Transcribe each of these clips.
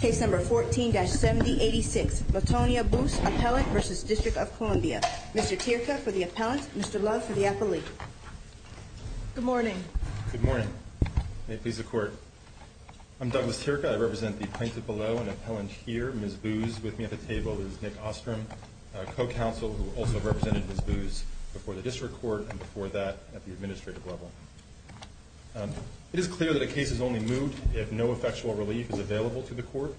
Case number 14-7086. Latonya Boose, appellant v. District of Columbia. Mr. Tirka for the appellant. Mr. Love for the appellee. Good morning. Good morning. May it please the Court. I'm Douglas Tirka. I represent the plaintiff below and appellant here. Ms. Boos with me at the table is Nick Ostrom, co-counsel who also represented Ms. Boos before the District Court and before that at the administrative level. It is clear that a case is only moot if no effectual relief is available to the Court.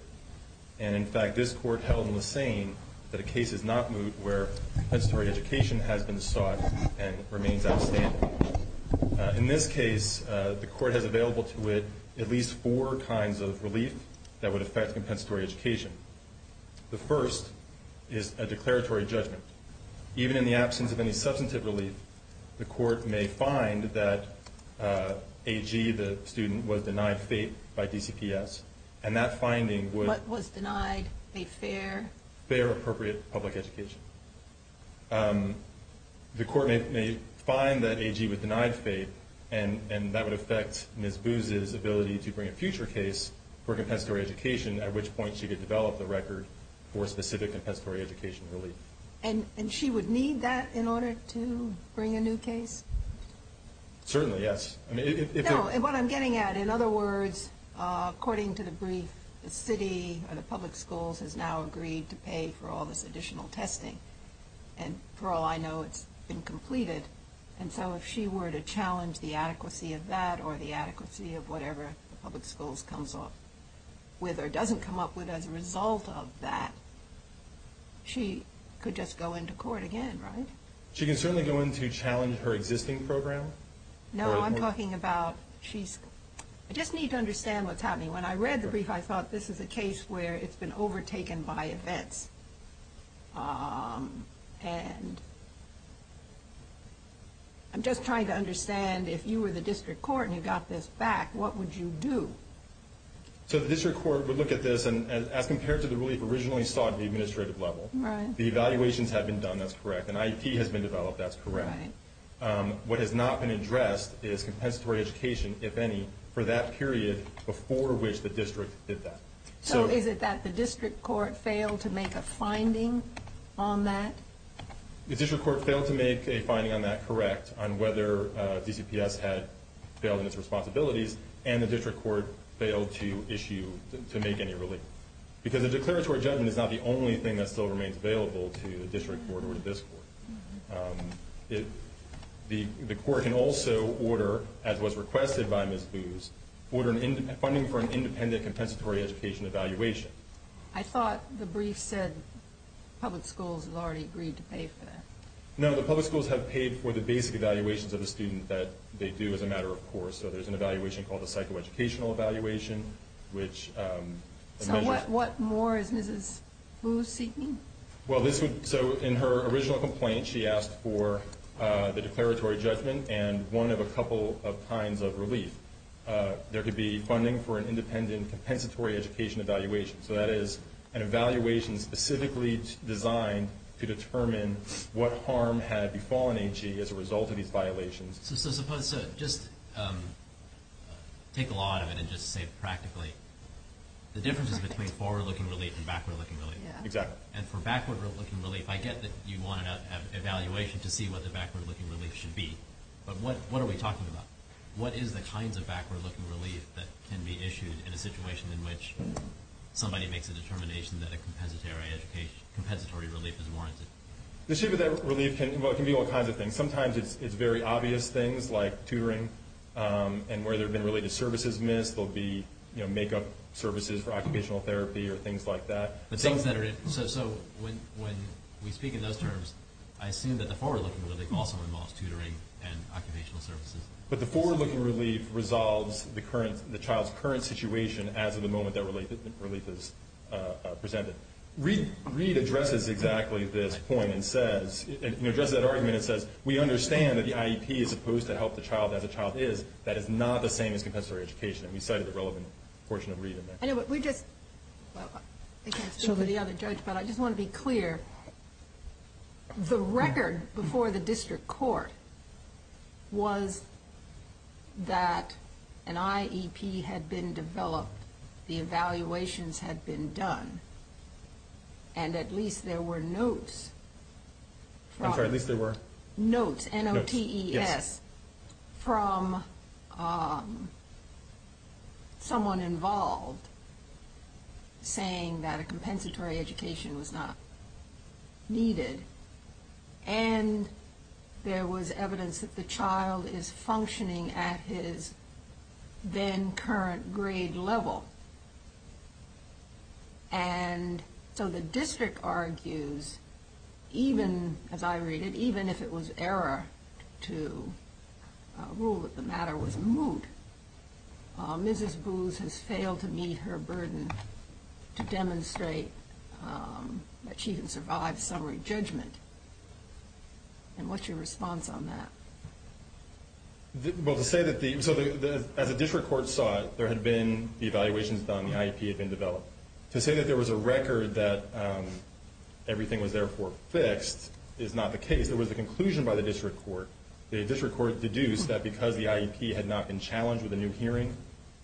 And, in fact, this Court held in the same that a case is not moot where compensatory education has been sought and remains outstanding. In this case, the Court has available to it at least four kinds of relief that would affect compensatory education. The first is a declaratory judgment. Even in the absence of any substantive relief, the Court may find that AG, the student, was denied fate by DCPS and that finding would What was denied? A fair? Fair, appropriate public education. The Court may find that AG was denied fate and that would affect Ms. Boos' ability to bring a future case for compensatory education at which point she could develop the record for specific compensatory education relief. And she would need that in order to bring a new case? Certainly, yes. No, what I'm getting at, in other words, according to the brief, the city or the public schools has now agreed to pay for all this additional testing. And for all I know, it's been completed. And so if she were to challenge the adequacy of that or the adequacy of whatever the public schools comes up with or doesn't come up with as a result of that, she could just go into court again, right? She can certainly go in to challenge her existing program. No, I'm talking about, I just need to understand what's happening. When I read the brief, I thought this is a case where it's been overtaken by events. I'm just trying to understand, if you were the district court and you got this back, what would you do? So the district court would look at this, and as compared to the relief originally sought at the administrative level, the evaluations have been done, that's correct. An IEP has been developed, that's correct. What has not been addressed is compensatory education, if any, for that period before which the district did that. So is it that the district court failed to make a finding on that? The district court failed to make a finding on that correct, on whether DCPS had failed in its responsibilities, and the district court failed to issue, to make any relief. Because a declaratory judgment is not the only thing that still remains available to the district court or to this court. The court can also order, as was requested by Ms. Booz, funding for an independent compensatory education evaluation. I thought the brief said public schools had already agreed to pay for that. No, the public schools have paid for the basic evaluations of the student that they do as a matter of course. So there's an evaluation called the psychoeducational evaluation, which- So what more is Ms. Booz seeking? Well, so in her original complaint, she asked for the declaratory judgment and one of a couple of kinds of relief. There could be funding for an independent compensatory education evaluation. So that is an evaluation specifically designed to determine what harm had befallen H.E. as a result of these violations. So just take a lot of it and just say practically, the difference is between forward-looking relief and backward-looking relief. Exactly. And for backward-looking relief, I get that you want an evaluation to see what the backward-looking relief should be, but what are we talking about? What is the kinds of backward-looking relief that can be issued in a situation in which somebody makes a determination that a compensatory relief is warranted? The shape of that relief can be all kinds of things. Sometimes it's very obvious things like tutoring and where there have been related services missed. There will be make-up services for occupational therapy or things like that. So when we speak in those terms, I assume that the forward-looking relief also involves tutoring and occupational services. But the forward-looking relief resolves the child's current situation as of the moment that relief is presented. Reid addresses exactly this point and says- We understand that the IEP is supposed to help the child as a child is. That is not the same as compensatory education, and we cited the relevant portion of Reid in there. I know, but we just- I can't speak for the other judge, but I just want to be clear. The record before the district court was that an IEP had been developed, the evaluations had been done, and at least there were notes- I'm sorry, at least there were? Notes, N-O-T-E-S, from someone involved saying that a compensatory education was not needed. And there was evidence that the child is functioning at his then-current grade level. And so the district argues, even, as I read it, even if it was error to rule that the matter was moot, Mrs. Booz has failed to meet her burden to demonstrate that she can survive summary judgment. And what's your response on that? Well, to say that the- so as the district court saw it, there had been the evaluations done, the IEP had been developed. To say that there was a record that everything was therefore fixed is not the case. There was a conclusion by the district court. The district court deduced that because the IEP had not been challenged with a new hearing,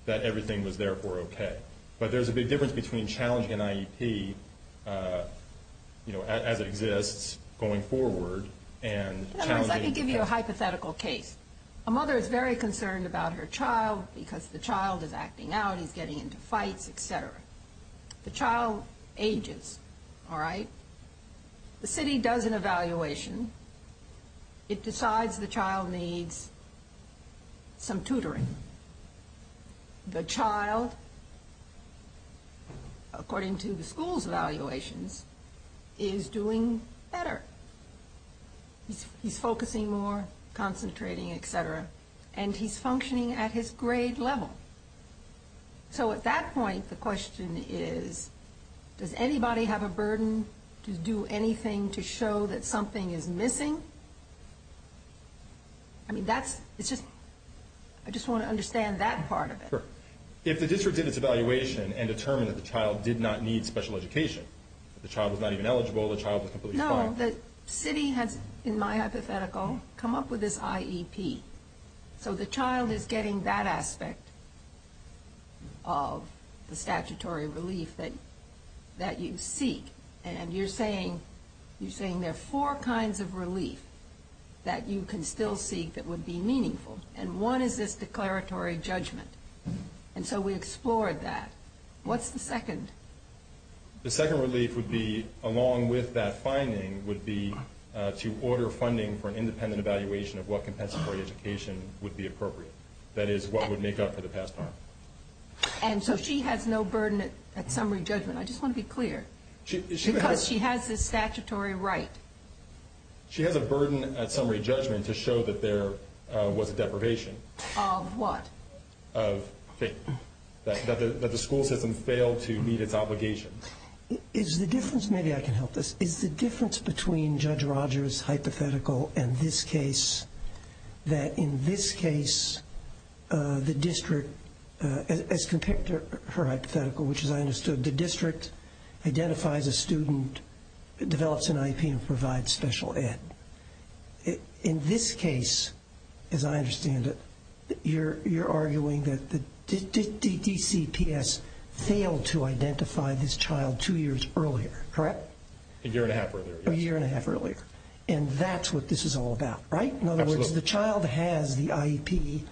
that everything was therefore okay. But there's a big difference between challenging an IEP, you know, as it exists going forward, and challenging- Let me give you a hypothetical case. A mother is very concerned about her child because the child is acting out, he's getting into fights, etc. The child ages, all right? The city does an evaluation. It decides the child needs some tutoring. The child, according to the school's evaluations, is doing better. He's focusing more, concentrating, etc. And he's functioning at his grade level. So at that point, the question is, does anybody have a burden to do anything to show that something is missing? I mean, that's- it's just- I just want to understand that part of it. Sure. If the district did its evaluation and determined that the child did not need special education, the child was not even eligible, the child was completely fine- No, the city has, in my hypothetical, come up with this IEP. So the child is getting that aspect of the statutory relief that you seek. And you're saying there are four kinds of relief that you can still seek that would be meaningful. And one is this declaratory judgment. And so we explored that. What's the second? The second relief would be, along with that finding, would be to order funding for an independent evaluation of what compensatory education would be appropriate. That is, what would make up for the past harm. And so she has no burden at summary judgment. I just want to be clear. Because she has this statutory right. She has a burden at summary judgment to show that there was a deprivation. Of what? Of faith. That the school system failed to meet its obligations. Is the difference, maybe I can help this, is the difference between Judge Rogers' hypothetical and this case, that in this case, the district, as compared to her hypothetical, which as I understood, the district identifies a student, develops an IEP, and provides special ed. In this case, as I understand it, you're arguing that the DCPS failed to identify this child two years earlier, correct? A year and a half earlier. A year and a half earlier. And that's what this is all about, right? Absolutely. In other words, the child has the IEP,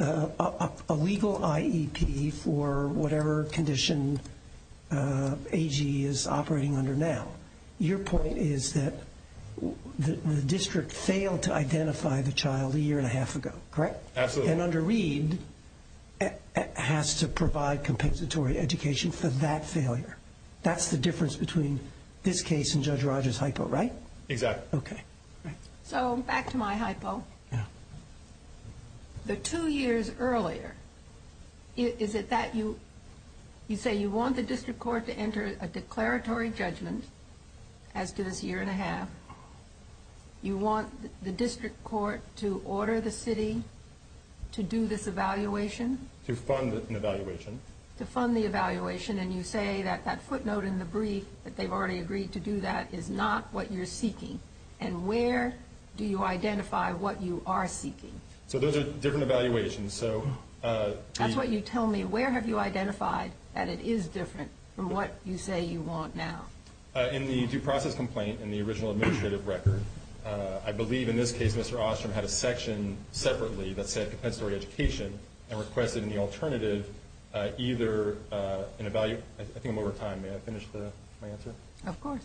a legal IEP for whatever condition AG is operating under now. Your point is that the district failed to identify the child a year and a half ago, correct? Absolutely. And under Reed, it has to provide compensatory education for that failure. That's the difference between this case and Judge Rogers' hypo, right? Exactly. Okay. So back to my hypo. Yeah. The two years earlier, is it that you say you want the district court to enter a declaratory judgment as to this year and a half? You want the district court to order the city to do this evaluation? To fund an evaluation. To fund the evaluation, and you say that that footnote in the brief, that they've already agreed to do that, is not what you're seeking. And where do you identify what you are seeking? So those are different evaluations. That's what you tell me. Where have you identified that it is different from what you say you want now? In the due process complaint, in the original administrative record, I believe in this case Mr. Ostrom had a section separately that said compensatory education and requested in the alternative either an evaluation. I think I'm over time. May I finish my answer? Of course.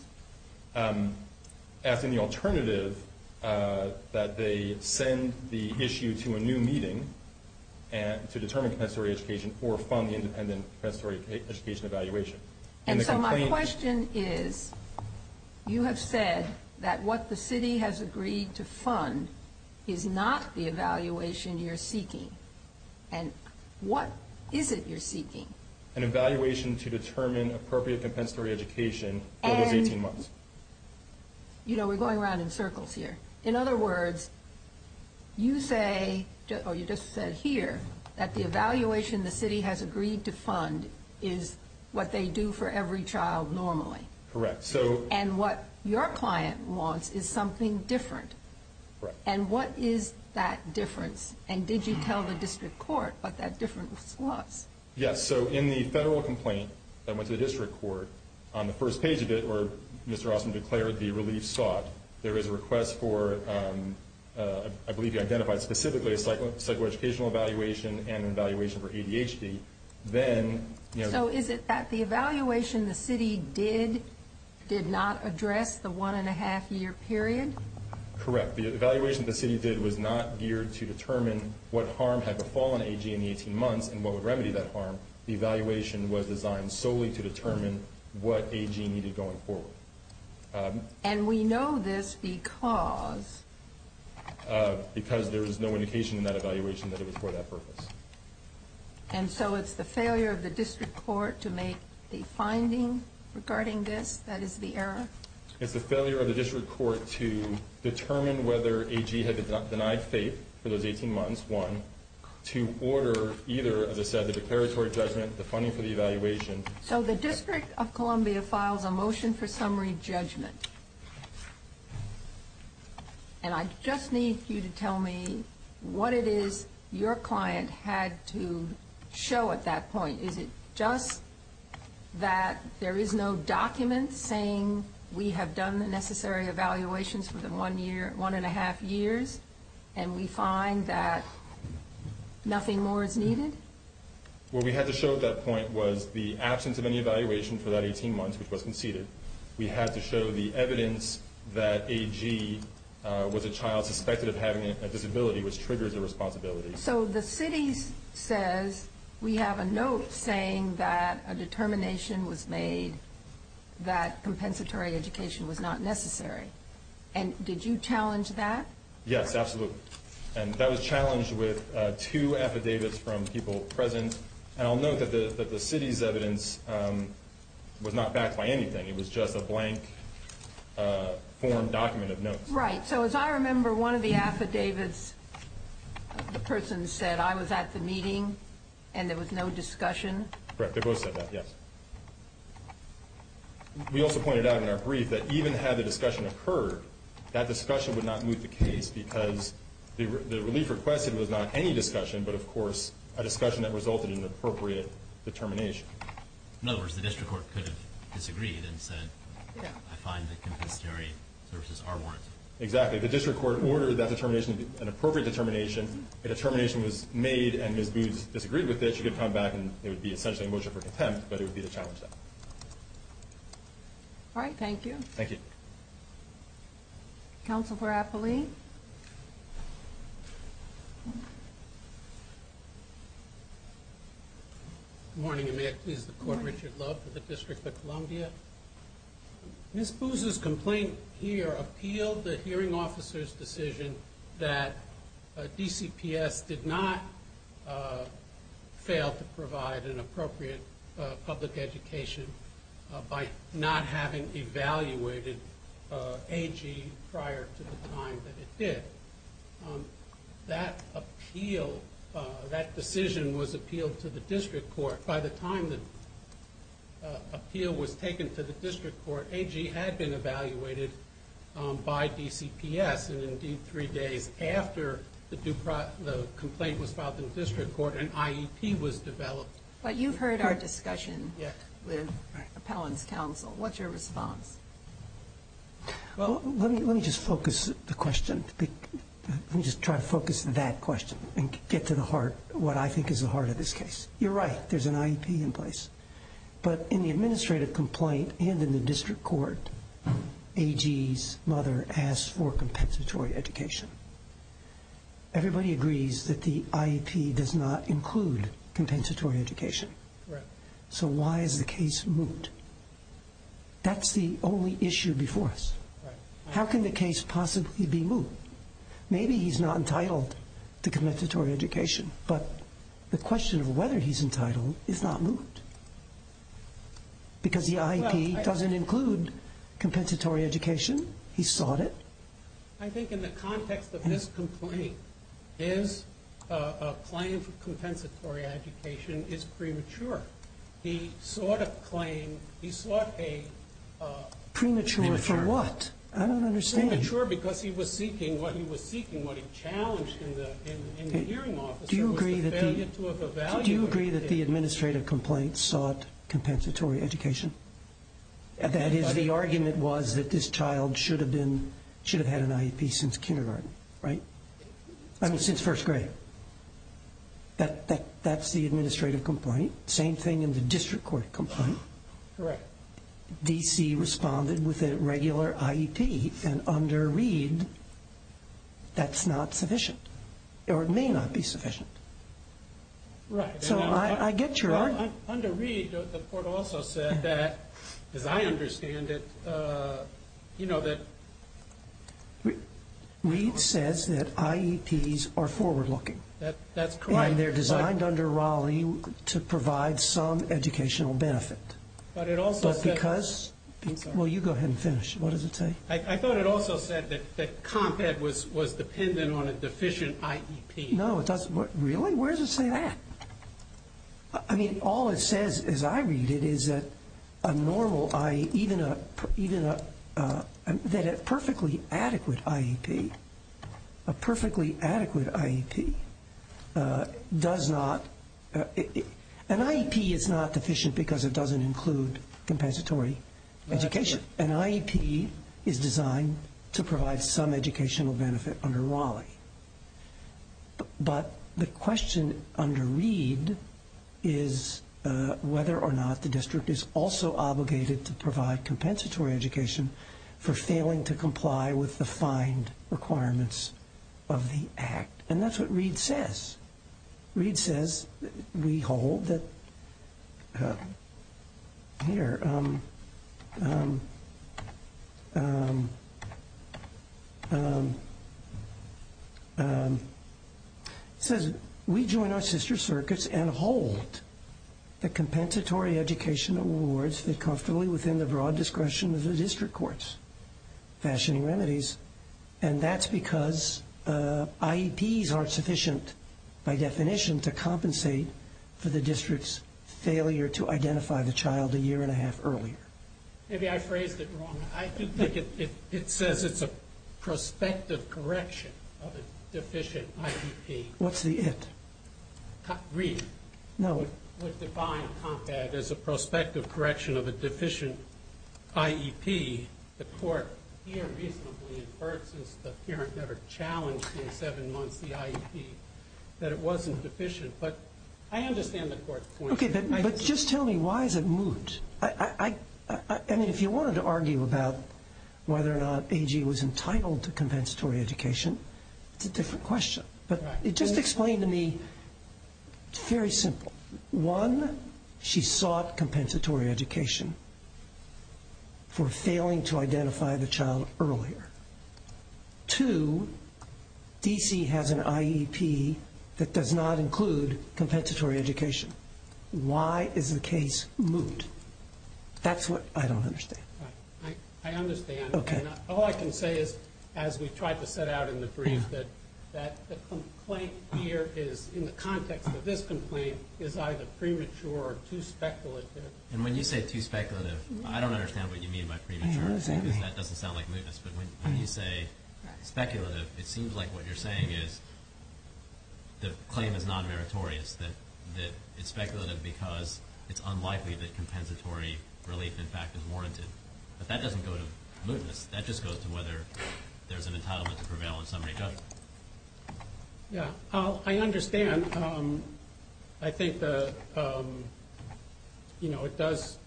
As in the alternative, that they send the issue to a new meeting to determine compensatory education or fund the independent compensatory education evaluation. And so my question is, you have said that what the city has agreed to fund is not the evaluation you're seeking. An evaluation to determine appropriate compensatory education for those 18 months. You know, we're going around in circles here. In other words, you say, or you just said here, that the evaluation the city has agreed to fund is what they do for every child normally. Correct. And what your client wants is something different. Correct. And what is that difference? And did you tell the district court what that difference was? Yes. So in the federal complaint that went to the district court, on the first page of it where Mr. Ostrom declared the relief sought, there is a request for, I believe you identified specifically, a psychoeducational evaluation and an evaluation for ADHD. So is it that the evaluation the city did did not address the one and a half year period? Correct. The evaluation the city did was not geared to determine what harm had befallen AG in the 18 months and what would remedy that harm. The evaluation was designed solely to determine what AG needed going forward. And we know this because? Because there was no indication in that evaluation that it was for that purpose. And so it's the failure of the district court to make the finding regarding this that is the error? It's the failure of the district court to determine whether AG had denied faith for those 18 months, one, to order either, as I said, the declaratory judgment, the funding for the evaluation. So the District of Columbia files a motion for summary judgment. And I just need you to tell me what it is your client had to show at that point. Is it just that there is no document saying we have done the necessary evaluations for the one and a half years and we find that nothing more is needed? What we had to show at that point was the absence of any evaluation for that 18 months, which was conceded. We had to show the evidence that AG was a child suspected of having a disability, which triggers a responsibility. So the city says we have a note saying that a determination was made that compensatory education was not necessary. And did you challenge that? Yes, absolutely. And that was challenged with two affidavits from people present. And I'll note that the city's evidence was not backed by anything. It was just a blank form document of notes. Right, so as I remember, one of the affidavits, the person said, I was at the meeting and there was no discussion. Correct, they both said that, yes. We also pointed out in our brief that even had the discussion occurred, that discussion would not move the case because the relief requested was not any discussion, but, of course, a discussion that resulted in an appropriate determination. In other words, the district court could have disagreed and said, I find that compensatory services are warranted. Exactly, the district court ordered that determination to be an appropriate determination. A determination was made and Ms. Boots disagreed with it. She could come back and it would be essentially a motion for contempt, but it would be to challenge that. All right, thank you. Thank you. Counsel for Apolli? Good morning, and may I please the court? Richard Love for the District of Columbia. Ms. Boots' complaint here appealed the hearing officer's decision that DCPS did not fail to provide an appropriate public education by not having evaluated AG prior to the time that it did. That appeal, that decision was appealed to the district court. By the time the appeal was taken to the district court, AG had been evaluated by DCPS, and indeed three days after the complaint was filed in the district court, an IEP was developed. But you've heard our discussion with appellant's counsel. What's your response? Well, let me just focus the question. Let me just try to focus on that question and get to the heart, what I think is the heart of this case. You're right, there's an IEP in place. But in the administrative complaint and in the district court, AG's mother asked for compensatory education. Everybody agrees that the IEP does not include compensatory education. So why is the case moot? That's the only issue before us. How can the case possibly be moot? Maybe he's not entitled to compensatory education, but the question of whether he's entitled is not moot. Because the IEP doesn't include compensatory education. He sought it. I think in the context of this complaint, his claim for compensatory education is premature. He sought a claim. He sought a premature. Premature for what? I don't understand. Premature because he was seeking what he was seeking, what he challenged in the hearing office. Do you agree that the administrative complaint sought compensatory education? That is, the argument was that this child should have had an IEP since kindergarten, right? I mean, since first grade. That's the administrative complaint. Same thing in the district court complaint. Correct. DC responded with a regular IEP, and under Reed, that's not sufficient. Or it may not be sufficient. So I get your argument. Under Reed, the court also said that, as I understand it, you know, that. Reed says that IEPs are forward-looking. That's correct. And they're designed under Raleigh to provide some educational benefit. But it also said. But because. Well, you go ahead and finish. What does it say? I thought it also said that CompEd was dependent on a deficient IEP. No, it doesn't. Really? Where does it say that? I mean, all it says, as I read it, is that a normal IE, even a, that a perfectly adequate IEP, a perfectly adequate IEP does not. An IEP is not deficient because it doesn't include compensatory education. An IEP is designed to provide some educational benefit under Raleigh. But the question under Reed is whether or not the district is also obligated to provide compensatory education for failing to comply with the fined requirements of the Act. And that's what Reed says. Reed says we hold that. Here. It says, we join our sister circuits and hold the compensatory education awards fit comfortably within the broad discretion of the district courts. Fashioning remedies. And that's because IEPs aren't sufficient, by definition, to compensate for the district's failure to identify the child a year and a half earlier. Maybe I phrased it wrong. I think it says it's a prospective correction of a deficient IEP. What's the it? Reed. No. I would define COMPAD as a prospective correction of a deficient IEP. The court here reasonably inferred since the parent never challenged in seven months the IEP that it wasn't deficient. But I understand the court's point. Okay. But just tell me why is it moot? I mean, if you wanted to argue about whether or not AG was entitled to compensatory education, it's a different question. But just explain to me, it's very simple. One, she sought compensatory education for failing to identify the child earlier. Two, DC has an IEP that does not include compensatory education. Why is the case moot? That's what I don't understand. I understand. Okay. All I can say is, as we tried to set out in the brief, that the complaint here is, in the context of this complaint, is either premature or too speculative. And when you say too speculative, I don't understand what you mean by premature. I understand. Because that doesn't sound like mootness. But when you say speculative, it seems like what you're saying is the claim is non-meritorious, that it's speculative because it's unlikely that compensatory relief, in fact, is warranted. But that doesn't go to mootness. That just goes to whether there's an entitlement to prevail in summary judgment. Yeah. I understand. I think, you know, it does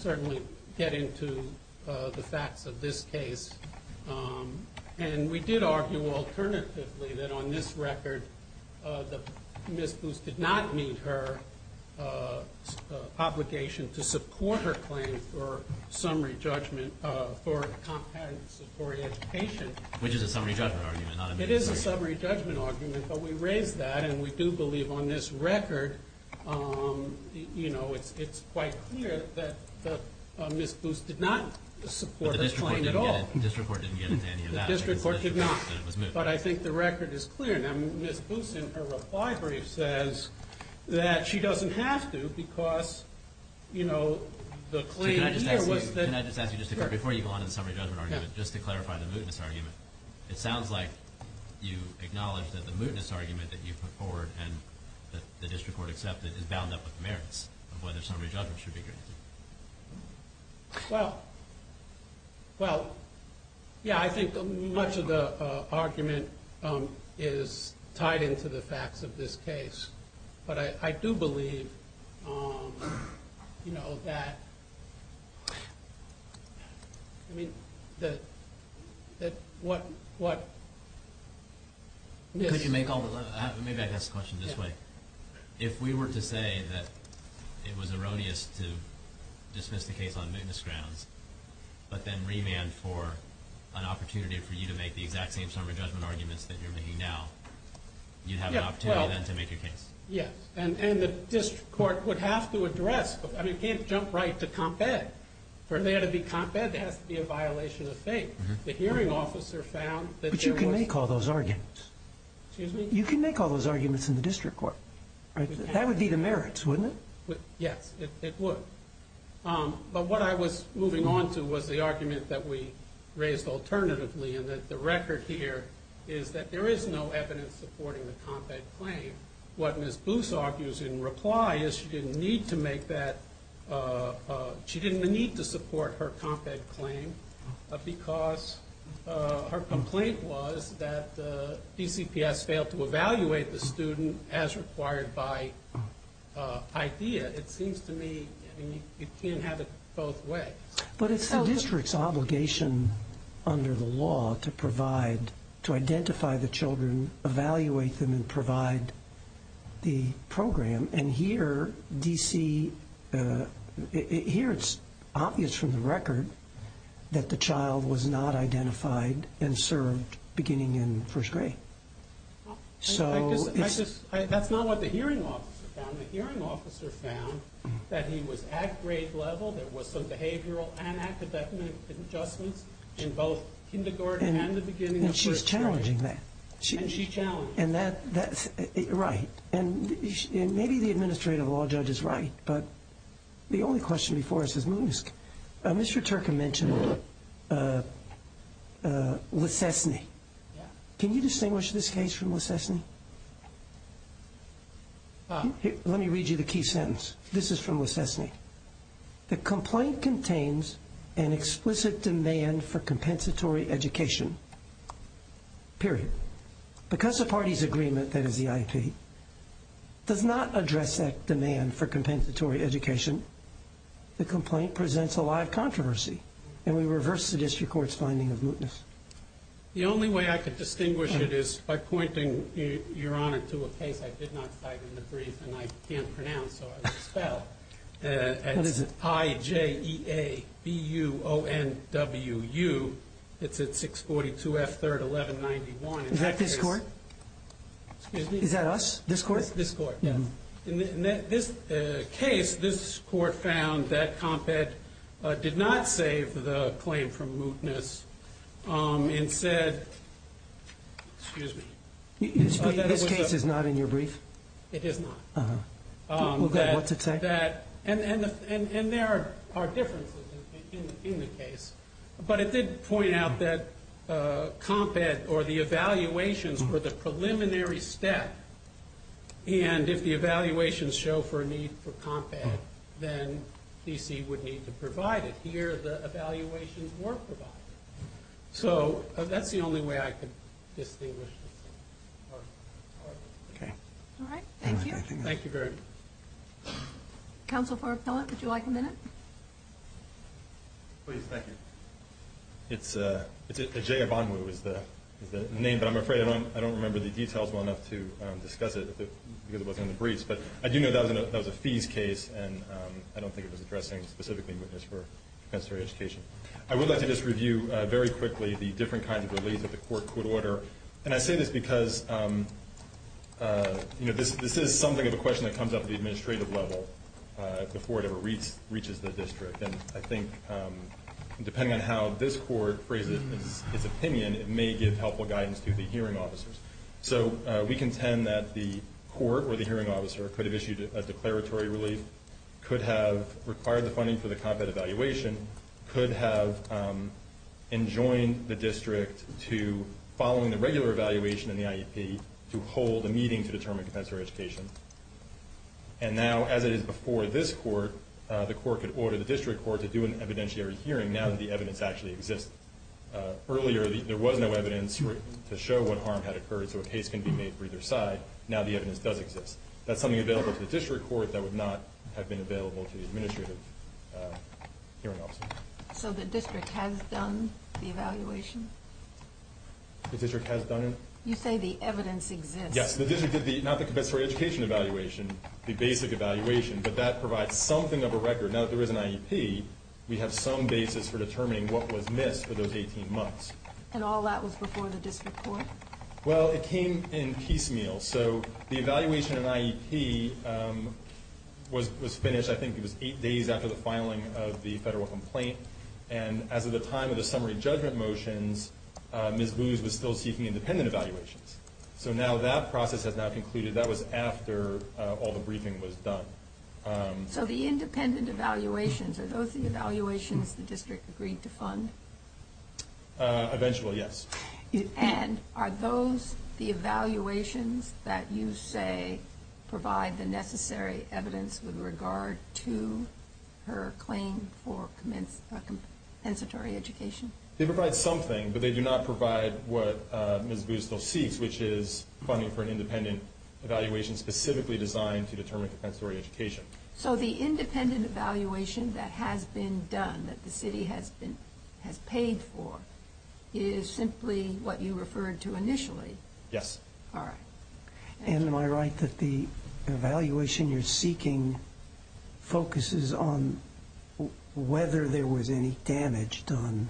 certainly get into the facts of this case. And we did argue alternatively that, on this record, Ms. Booth did not meet her obligation to support her claim for summary judgment for compensatory education. Which is a summary judgment argument, not a moot case. It is a summary judgment argument, but we raised that, and we do believe on this record, you know, it's quite clear that Ms. Booth did not support this claim at all. But the district court didn't get into any of that. The district court did not. But I think the record is clear. Now, Ms. Booth, in her reply brief, says that she doesn't have to because, you know, the claim here was that Can I just ask you, just before you go on to the summary judgment argument, just to clarify the mootness argument. It sounds like you acknowledge that the mootness argument that you put forward and that the district court accepted is bound up with merits of whether summary judgment should be granted. Well, well, yeah, I think much of the argument is tied into the facts of this case. But I do believe, you know, that, I mean, that, that what, what Could you make all the, maybe I can ask the question this way. If we were to say that it was erroneous to dismiss the case on mootness grounds, but then remand for an opportunity for you to make the exact same summary judgment arguments that you're making now, you'd have an opportunity then to make your case. Yes, and the district court would have to address, I mean, you can't jump right to comp-ed. For there to be comp-ed, there has to be a violation of faith. The hearing officer found that there was But you can make all those arguments. Excuse me? You can make all those arguments in the district court. That would be the merits, wouldn't it? Yes, it would. But what I was moving on to was the argument that we raised alternatively, and that the record here is that there is no evidence supporting the comp-ed claim. What Ms. Booth argues in reply is she didn't need to make that, she didn't need to support her comp-ed claim because her complaint was that DCPS failed to evaluate the student as required by IDEA. It seems to me you can't have it both ways. But it's the district's obligation under the law to provide, to identify the children, evaluate them, and provide the program. And here, DC, here it's obvious from the record that the child was not identified and served beginning in first grade. That's not what the hearing officer found. The hearing officer found that he was at grade level, there was some behavioral and academic adjustments in both kindergarten and the beginning of first grade. And she's challenging that. And she challenged that. And that's right. And maybe the administrative law judge is right, but the only question before us is Moosk. Mr. Turcom mentioned Lecessne. Can you distinguish this case from Lecessne? Let me read you the key sentence. This is from Lecessne. The complaint contains an explicit demand for compensatory education, period. Because the party's agreement, that is the IP, does not address that demand for compensatory education, the complaint presents a lot of controversy. And we reverse the district court's finding of mootness. The only way I could distinguish it is by pointing, Your Honor, to a case I did not cite in the brief and I can't pronounce, so I'll expel. What is it? It's I-J-E-A-B-U-O-N-W-U. It's at 642 F. 3rd, 1191. Is that this court? Is that us? This court? This court, yes. In this case, this court found that CompEd did not save the claim from mootness and said, excuse me. This case is not in your brief? It is not. What's it say? And there are differences in the case. But it did point out that CompEd or the evaluations were the preliminary step. And if the evaluations show for a need for CompEd, then D.C. would need to provide it. Here the evaluations were provided. So that's the only way I could distinguish this. All right. Thank you. Thank you very much. Counsel for appellant, would you like a minute? Please. Thank you. It's a J-E-A-B-U-N-W-U is the name, but I'm afraid I don't remember the details well enough to discuss it because it wasn't in the briefs. But I do know that was a fees case, and I don't think it was addressing specifically mootness for compensatory education. I would like to just review very quickly the different kinds of beliefs that the court could order. And I say this because, you know, this is something of a question that comes up at the administrative level before it ever reaches the district. And I think depending on how this court phrases its opinion, it may give helpful guidance to the hearing officers. So we contend that the court or the hearing officer could have issued a declaratory relief, could have required the funding for the CompEd evaluation, could have enjoined the district to, following the regular evaluation in the IEP, to hold a meeting to determine compensatory education. And now, as it is before this court, the court could order the district court to do an evidentiary hearing now that the evidence actually exists. Earlier, there was no evidence to show what harm had occurred, so a case can be made for either side. Now the evidence does exist. That's something available to the district court that would not have been available to the administrative hearing officer. So the district has done the evaluation? The district has done it? You say the evidence exists. Yes, the district did not the compensatory education evaluation, the basic evaluation, but that provides something of a record. Now that there is an IEP, we have some basis for determining what was missed for those 18 months. And all that was before the district court? Well, it came in piecemeal. So the evaluation in IEP was finished, I think it was, eight days after the filing of the federal complaint. And as of the time of the summary judgment motions, Ms. Boone was still seeking independent evaluations. So now that process has now concluded. That was after all the briefing was done. So the independent evaluations, are those the evaluations the district agreed to fund? Eventually, yes. And are those the evaluations that you say provide the necessary evidence with regard to her claim for compensatory education? They provide something, but they do not provide what Ms. Boone still seeks, which is funding for an independent evaluation specifically designed to determine compensatory education. So the independent evaluation that has been done, that the city has paid for, is simply what you referred to initially? Yes. All right. And am I right that the evaluation you're seeking focuses on whether there was any damage done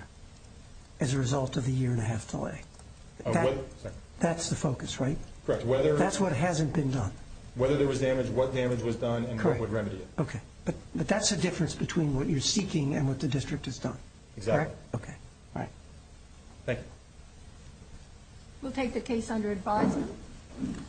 as a result of the year-and-a-half delay? That's the focus, right? Correct. That's what hasn't been done? Whether there was damage, what damage was done, and what would remedy it. Okay. But that's the difference between what you're seeking and what the district has done? Exactly. Okay. All right. Thank you. We'll take the case under advisory.